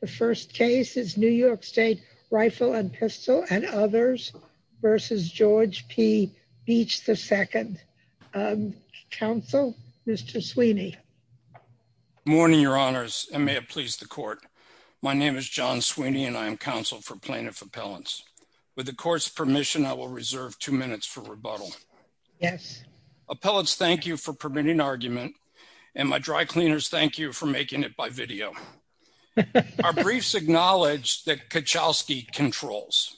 The first case is New York State Rifle & Pistol and Others v. George P. Beach II. Counsel, Mr. Sweeney. Morning, Your Honors, and may it please the Court. My name is John Sweeney, and I am counsel for Plaintiff Appellants. With the Court's permission, I will reserve two minutes for rebuttal. Yes. Appellants, thank you for permitting argument, and my dry cleaners, thank you for making it by video. Our briefs acknowledge that Kuchelski controls.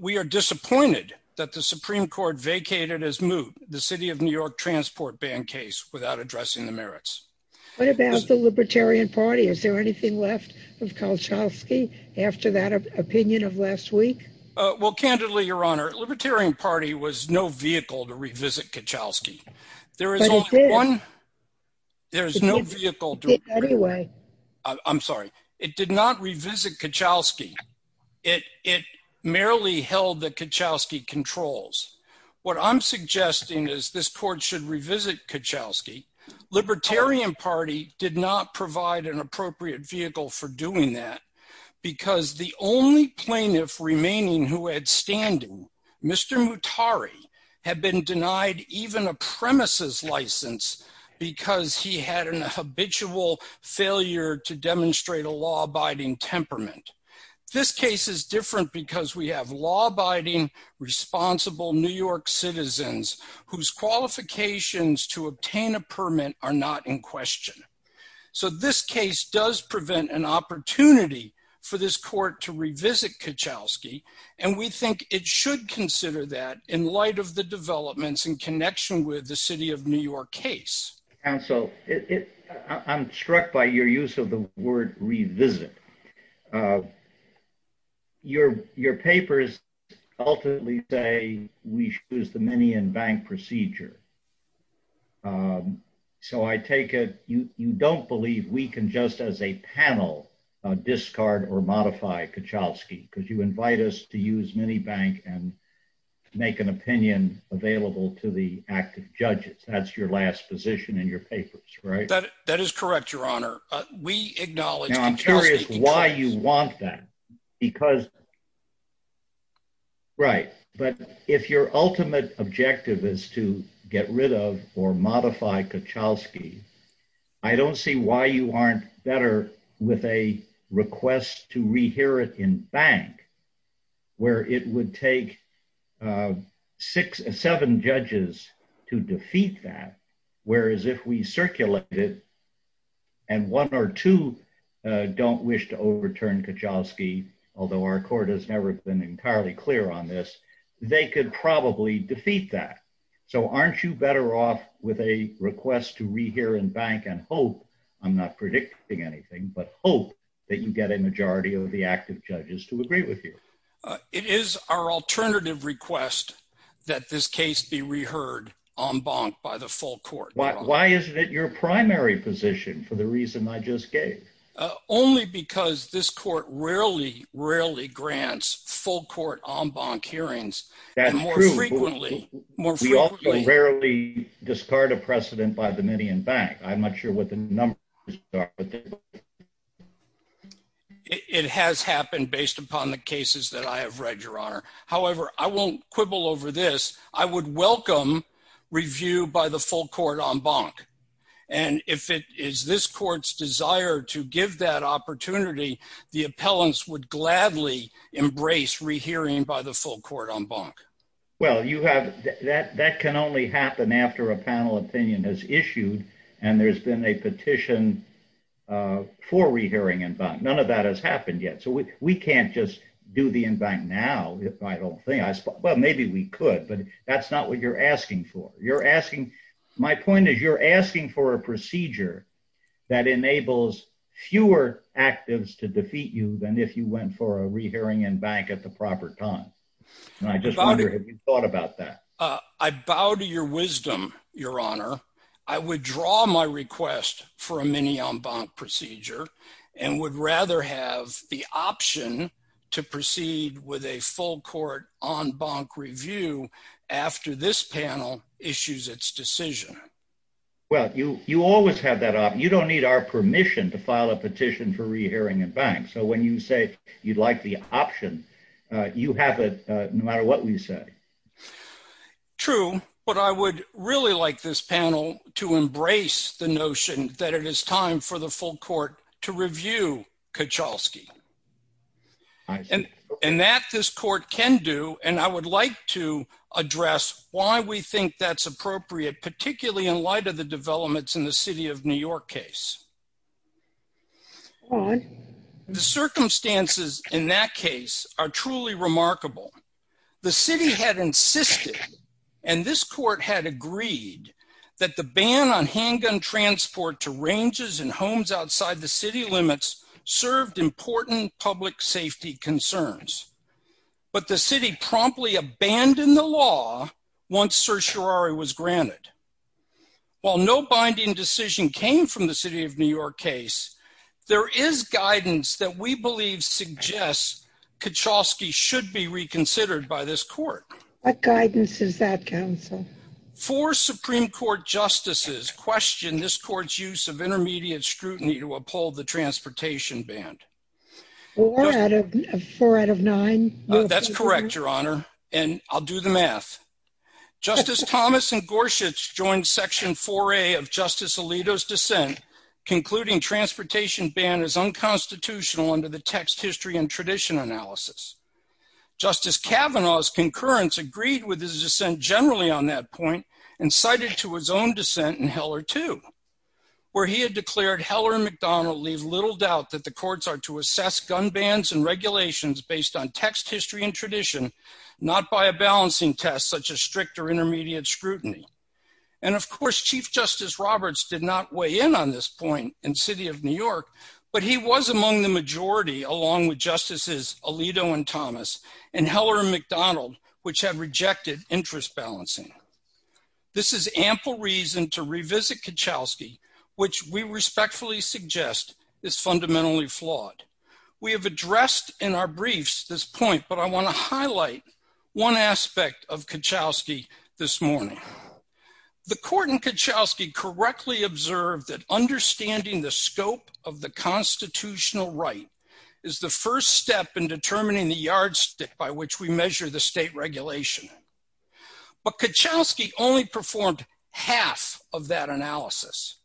We are disappointed that the Supreme Court vacated as moot the City of New York Transport Ban case without addressing the merits. What about the Libertarian Party? Is there anything left of Kuchelski after that opinion of last week? Well, candidly, Your Honor, the Libertarian Party was no vehicle to revisit Kuchelski. There is only one. But it did. There is no vehicle. It did anyway. I'm sorry. It did not revisit Kuchelski. It merely held the Kuchelski controls. What I'm suggesting is this Court should revisit Kuchelski. Libertarian Party did not provide an appropriate vehicle for doing that, because the only plaintiff remaining who had standing, Mr. Mutari, had been denied even a premises license because he had an habitual failure to demonstrate a law-abiding temperament. This case is different because we have law-abiding, responsible New York citizens whose qualifications to obtain a permit are not in question. So this case does prevent an opportunity for this Court to revisit Kuchelski, and we think it should consider that in light of the developments in connection with the City of New York case. Counsel, I'm struck by your use of the word revisit. Your papers ultimately say we should use the mini and bank procedure. So I take it you don't believe we can just as a panel discard or modify Kuchelski, because you invite us to use mini-bank and make an opinion available to the active judges. That's your last position in your papers, right? That is correct, Your Honor. We acknowledge Kuchelski... Now I'm curious why you want that, because... Right. But if your ultimate objective is to get rid of or modify Kuchelski, I don't see why you aren't better with a request to rehear it in bank, where it would take six, seven judges to defeat that, whereas if we circulate it and one or two don't wish to overturn Kuchelski, although our Court has never been entirely clear on this, they could probably defeat that. So aren't you better off with a request to rehear in bank and hope, I'm not predicting anything, but hope that you get a majority of the active judges to agree with you? It is our alternative request that this case be reheard en banc by the full Court. Why isn't it your primary position for the reason I just gave? Only because this Court rarely, rarely grants full Court en banc hearings. That's true. More frequently. More frequently. We also rarely discard a precedent by the many in bank. I'm not sure what the numbers are. It has happened based upon the cases that I have read, Your Honor. However, I won't quibble over this. I would welcome review by the full Court en banc. And if it is this Court's desire to give that opportunity, the appellants would gladly embrace rehearing by the full Court en banc. Well, that can only happen after a panel opinion is issued and there's been a petition for rehearing en banc. None of that has happened yet. So we can't just do the en banc now, I don't think. Well, maybe we could, but that's not what you're asking for. My point is you're asking for a procedure that enables fewer actives to defeat you than if you went for a rehearing en banc at the proper time. And I just wonder if you've thought about that. I bow to your wisdom, Your Honor. I would draw my request for a mini en banc procedure and would rather have the option to proceed with a full Court en banc review after this panel issues its decision. Well, you always have that option. You don't need our permission to file a petition for rehearing en banc. So when you say you'd like the option, you have it no matter what we say. True. But I would really like this panel to embrace the notion that it is time for the full Court to review Kuchalski. And that this Court can do. And I would like to address why we think that's appropriate, particularly in light of the developments in the City of New York case. The circumstances in that case are truly remarkable. The City had insisted, and this Court had agreed, that the ban on handgun transport to ranges and homes outside the City limits served important public safety concerns. But the City promptly abandoned the law once certiorari was granted. While no binding decision came from the City of New York case, there is guidance that we believe suggests Kuchalski should be reconsidered by this Court. What guidance is that, counsel? Four Supreme Court justices questioned this Court's use of intermediate scrutiny to uphold the transportation ban. Four out of nine? That's correct, Your Honor. And I'll do the math. Justice Thomas and Gorsuch joined Section 4A of Justice Alito's dissent, concluding transportation ban is unconstitutional under the text, history, and tradition analysis. Justice Kavanaugh's concurrence agreed with his dissent generally on that point, and cited to his own dissent in Heller, too, where he had declared Heller and McDonald leave little doubt that the courts are to assess gun bans and regulations based on text, history, and tradition, not by a balancing test such as strict or intermediate scrutiny. And of course, Chief Justice Roberts did not weigh in on this point in City of New York, but he was among the majority, along with Justices Alito and Thomas and Heller and McDonald, which had rejected interest balancing. This is ample reason to revisit Kuchalski, which we respectfully suggest is fundamentally flawed. We have addressed in our briefs this point, but I want to highlight one aspect of Kuchalski this morning. The court in Kuchalski correctly observed that understanding the scope of the constitutional right is the first step in determining the yardstick by which we measure the state regulation. But Kuchalski only performed half of that analysis.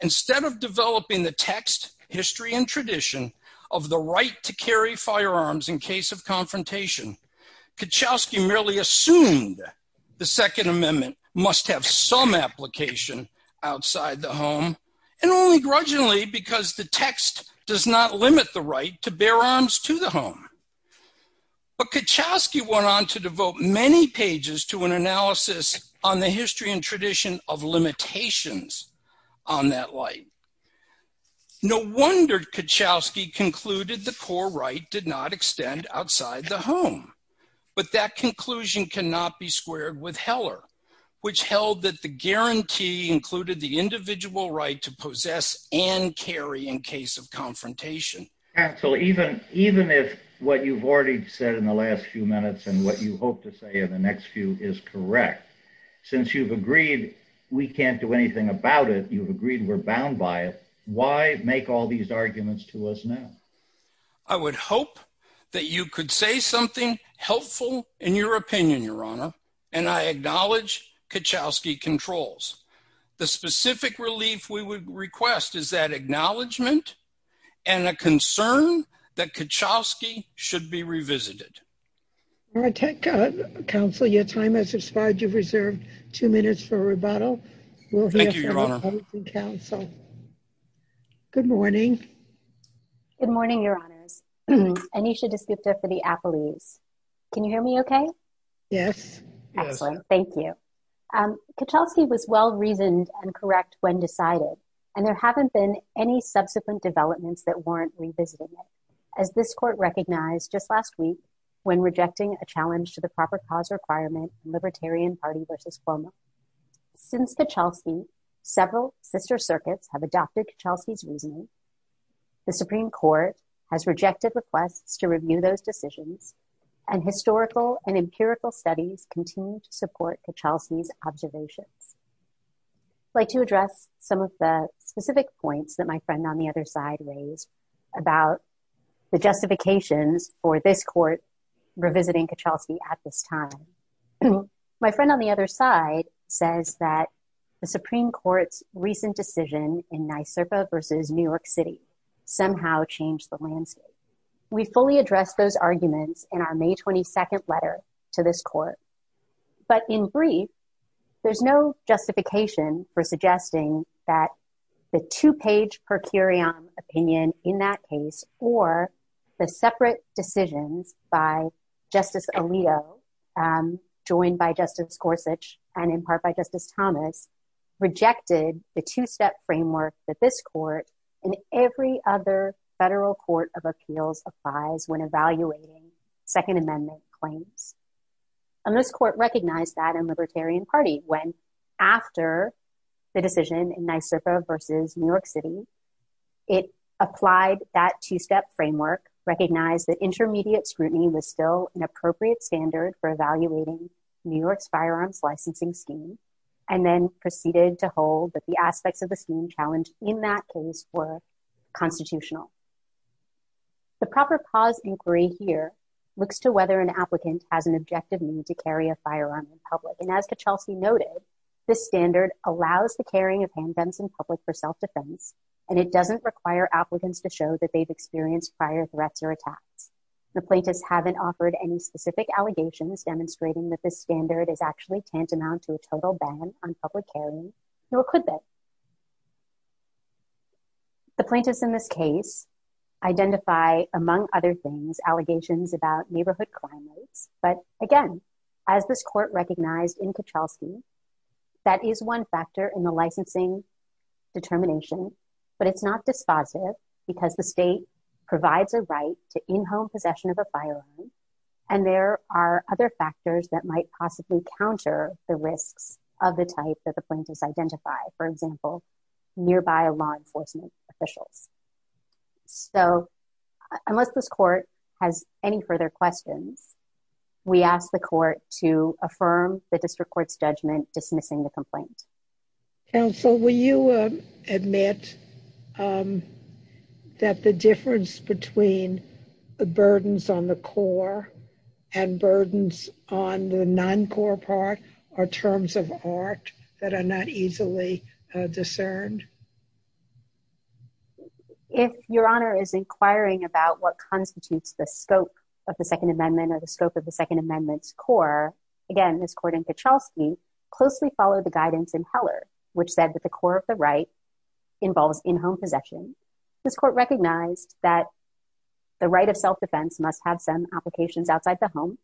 Instead of developing the text, history, and tradition of the right to carry firearms in case of confrontation, Kuchalski merely assumed the Second Amendment must have some application outside the home, and only grudgingly because the text does not limit the right to bear arms to the home. But Kuchalski went on to devote many pages to an analysis on the history and tradition of limitations on that light. No wonder Kuchalski concluded the core right did not extend outside the home. But that conclusion cannot be squared with Heller, which held that the guarantee included the individual right to possess and carry in case of confrontation. And so even if what you've already said in the last few minutes and what you hope to say in the next few is correct, since you've agreed we can't do anything about it, you've agreed we're bound by it, why make all these arguments to us now? I would hope that you could say something helpful in your opinion, Your Honor, and I acknowledge Kuchalski controls. The specific relief we would request is that acknowledgement and a concern that Kuchalski should be revisited. All right, counsel, your time has expired. You've reserved two minutes for rebuttal. We'll hear from the public and counsel. Good morning. Good morning, Your Honors. Anisha Desgupta for the Apple News. Can you hear me okay? Yes. Excellent. Thank you. Kuchalski was well-reasoned and correct when decided, and there haven't been any subsequent developments that warrant revisiting it. As this court recognized just last week, when rejecting a challenge to the proper cause requirement, Libertarian Party versus Cuomo. Since Kuchalski, several sister circuits have adopted Kuchalski's reasoning. The Supreme Court has rejected requests to review those decisions, and historical and empirical studies continue to support Kuchalski's observations. I'd like to address some of the specific points that my friend on the other side raised about the justifications for this court revisiting Kuchalski at this time. My friend on the other side says that the Supreme Court's recent decision in NYSRPA versus New York City somehow changed the landscape. We fully addressed those arguments in our May 22 letter to this court. But in brief, there's no justification for suggesting that the two-page per curiam opinion in that case, or the separate decisions by Justice Alito, joined by Justice Gorsuch, and in part by Justice Thomas, rejected the two-step framework that this court and every other federal court of appeals applies when evaluating Second Amendment claims. This court recognized that in Libertarian Party, when after the decision in NYSRPA versus New York City, it applied that two-step framework, recognized that intermediate scrutiny was still an appropriate standard for evaluating New York's firearms licensing scheme, and then proceeded to hold that the aspects of the scheme challenged in that case were constitutional. The proper cause inquiry here looks to whether an applicant has an objective need to carry a firearm in public. And as Kachelsi noted, this standard allows the carrying of handguns in public for self-defense, and it doesn't require applicants to show that they've experienced prior threats or attacks. The plaintiffs haven't offered any specific allegations demonstrating that this standard is actually tantamount to a total ban on public carrying, nor could they. The plaintiffs in this case identify, among other things, allegations about neighborhood crime rates. But again, as this court recognized in Kachelsi, that is one factor in the licensing determination, but it's not dispositive because the state provides a right to in-home possession of a firearm, and there are other factors that might possibly counter the risks of the type that the plaintiffs identify, for example, nearby law enforcement officials. So unless this court has any further questions, we ask the court to affirm the district court's judgment, dismissing the complaint. Counsel, will you admit that the difference between the burdens on the core and burdens on the non-core part are terms of art that are not easily discerned? If Your Honor is inquiring about what constitutes the scope of the Second Amendment or the scope of the Second Amendment's core, again, this court in Kachelsi closely followed the guidance in Heller, which said that the core of the right involves in-home possession. This court recognized that the right of self-defense must have some applications outside the home,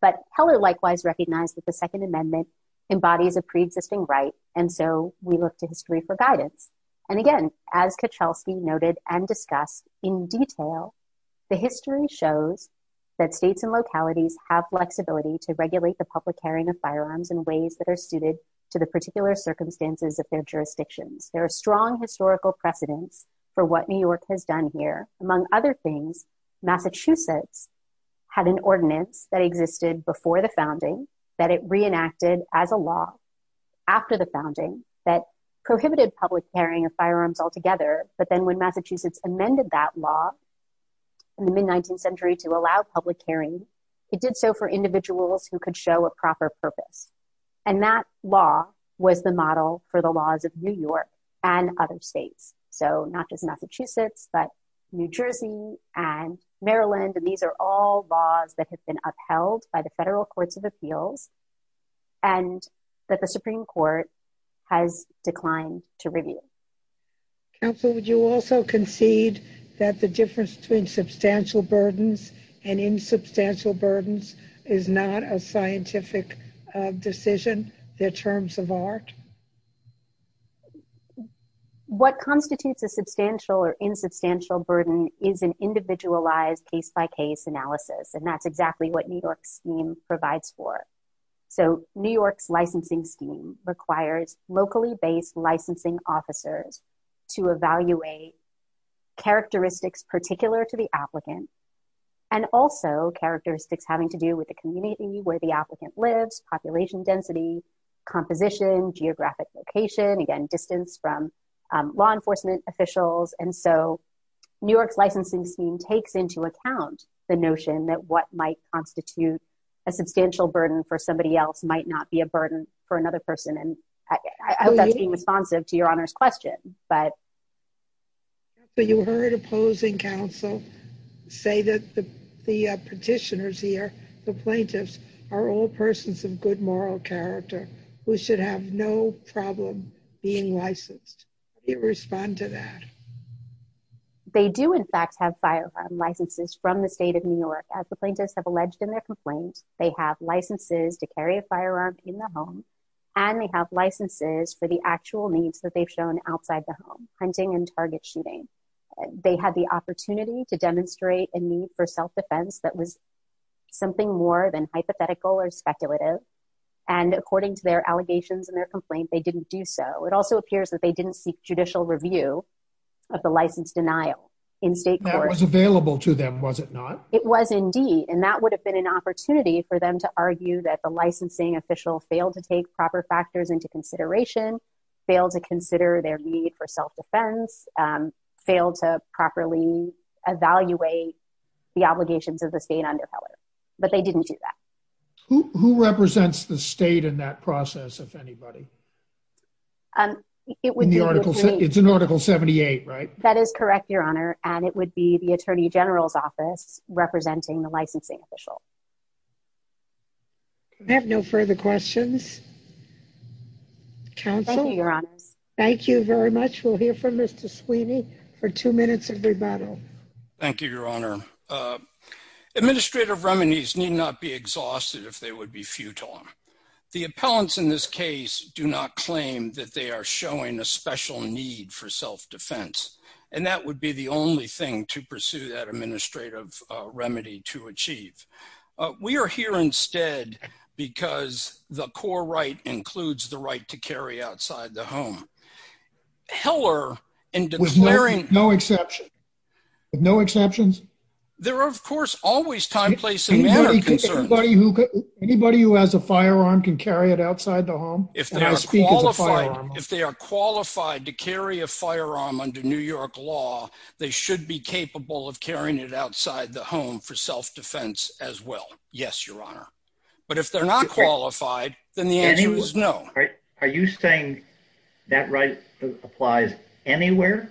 but Heller likewise recognized that the Second Amendment embodies a pre-existing right, and so we look to history for guidance. And again, as Kachelsi noted and discussed in detail, the history shows that states and localities have flexibility to regulate the public carrying of firearms in ways that are suited to the particular circumstances of their jurisdictions. There are strong historical precedents for what New York has done here. Among other things, Massachusetts had an ordinance that existed before the founding, that it reenacted as a law after the founding that prohibited public carrying of firearms altogether, but then when Massachusetts amended that law in the mid-19th century to allow public carrying, it did so for individuals who could show a proper purpose, and that law was the model for the laws of New York and other states. So not just Massachusetts, but New Jersey and Maryland, and these are all laws that have been upheld by the federal courts of appeals and that the Supreme Court has declined to review. Counsel, would you also concede that the difference between substantial burdens and insubstantial burdens is not a scientific decision, they're terms of art? What constitutes a substantial or insubstantial burden is an individualized case-by-case analysis, and that's exactly what New York's scheme provides for. So New York's licensing scheme requires locally-based licensing officers to evaluate characteristics particular to the applicant, and also characteristics having to do with the community where the applicant lives, population density, composition, geographic location, again, distance from law enforcement officials, and so New York's licensing scheme takes into account the notion that what might constitute a substantial burden for somebody else might not be a burden for another person, and I hope that's being responsive to Your Honor's question, but... Yes, but you heard opposing counsel say that the petitioners here, the plaintiffs, are all persons of good moral character who should have no problem being licensed. How do you respond to that? They do, in fact, have firearm licenses from the state of New York. As the plaintiffs have alleged in their complaint, they have licenses to carry a firearm in the home, and they have licenses for the actual needs that they've shown outside the home, hunting and target shooting. They had the opportunity to demonstrate a need for self-defense that was something more than hypothetical or speculative, and according to their allegations in their complaint, they didn't do so. It also appears that they didn't seek judicial review of the license denial in state court. That was available to them, was it not? It was indeed, and that would have been an opportunity for them to argue that the licensing official failed to take proper factors into consideration, failed to consider their need for self-defense, failed to properly evaluate the obligations of the state undercover, but they didn't do that. Who represents the state in that process, if anybody? It's in Article 78, right? That is correct, Your Honor, and it would be the Attorney General's office representing the licensing official. Do we have no further questions? Okay, Your Honor. Thank you very much. We'll hear from Mr. Sweeney for two minutes of rebuttal. Thank you, Your Honor. Administrative remedies need not be exhausted if they would be futile. The appellants in this case do not claim that they are showing a special need for self-defense, and that would be the only thing to pursue that administrative remedy to achieve. We are here instead because the core right includes the right to carry outside the home. Heller, in declaring- With no exceptions? There are, of course, always time, place, and manner concerns. Anybody who has a firearm can carry it outside the home? If they are qualified to carry a firearm under New York law, they should be capable of carrying it outside the home for self-defense as well. Yes, Your Honor. But if they're not qualified, then the answer is no. Are you saying that right applies anywhere?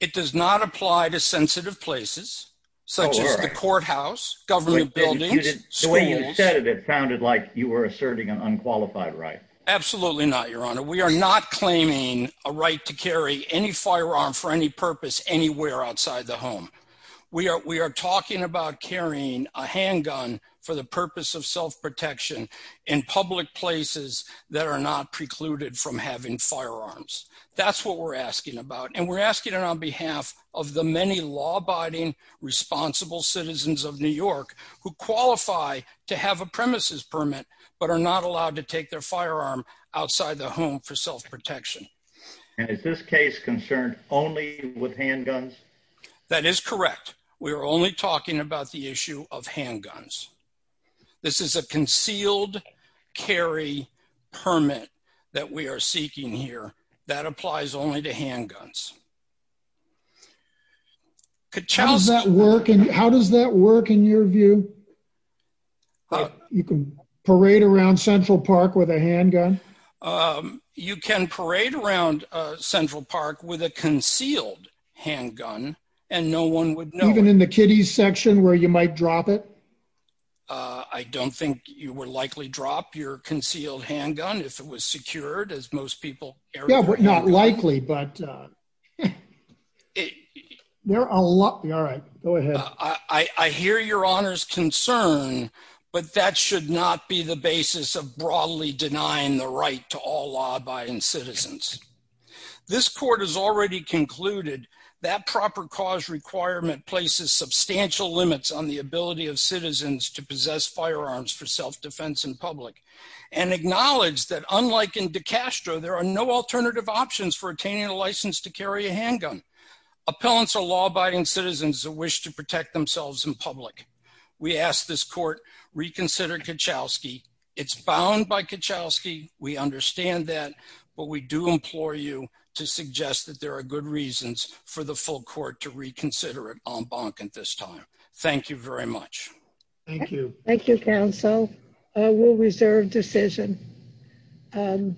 It does not apply to sensitive places, such as the courthouse, government buildings, schools. The way you said it, it sounded like you were asserting an unqualified right. Absolutely not, Your Honor. for any purpose anywhere outside the home. We are talking about carrying a handgun for the purpose of self-protection in public places that are not precluded from having firearms. That's what we're asking about, and we're asking it on behalf of the many law-abiding, responsible citizens of New York who qualify to have a premises permit but are not allowed to take their firearm outside the home for self-protection. And is this case concerned only with handguns? That is correct. We are only talking about the issue of handguns. This is a concealed carry permit that we are seeking here. That applies only to handguns. How does that work in your view? You can parade around Central Park with a handgun? Um, you can parade around Central Park with a concealed handgun, and no one would know. Even in the kiddies section where you might drop it? Uh, I don't think you would likely drop your concealed handgun if it was secured, as most people- Yeah, but not likely, but, uh, there are a lot- All right, go ahead. I hear Your Honor's concern, but that should not be the basis of broadly denying the right to all law-abiding citizens. This court has already concluded that proper cause requirement places substantial limits on the ability of citizens to possess firearms for self-defense in public, and acknowledged that unlike in DeCastro, there are no alternative options for attaining a license to carry a handgun. Appellants are law-abiding citizens who wish to protect themselves in public. We ask this court reconsider Kachowski. It's bound by Kachowski. We understand that, but we do implore you to suggest that there are good reasons for the full court to reconsider it en banc at this time. Thank you very much. Thank you. Thank you, counsel. We'll reserve decision.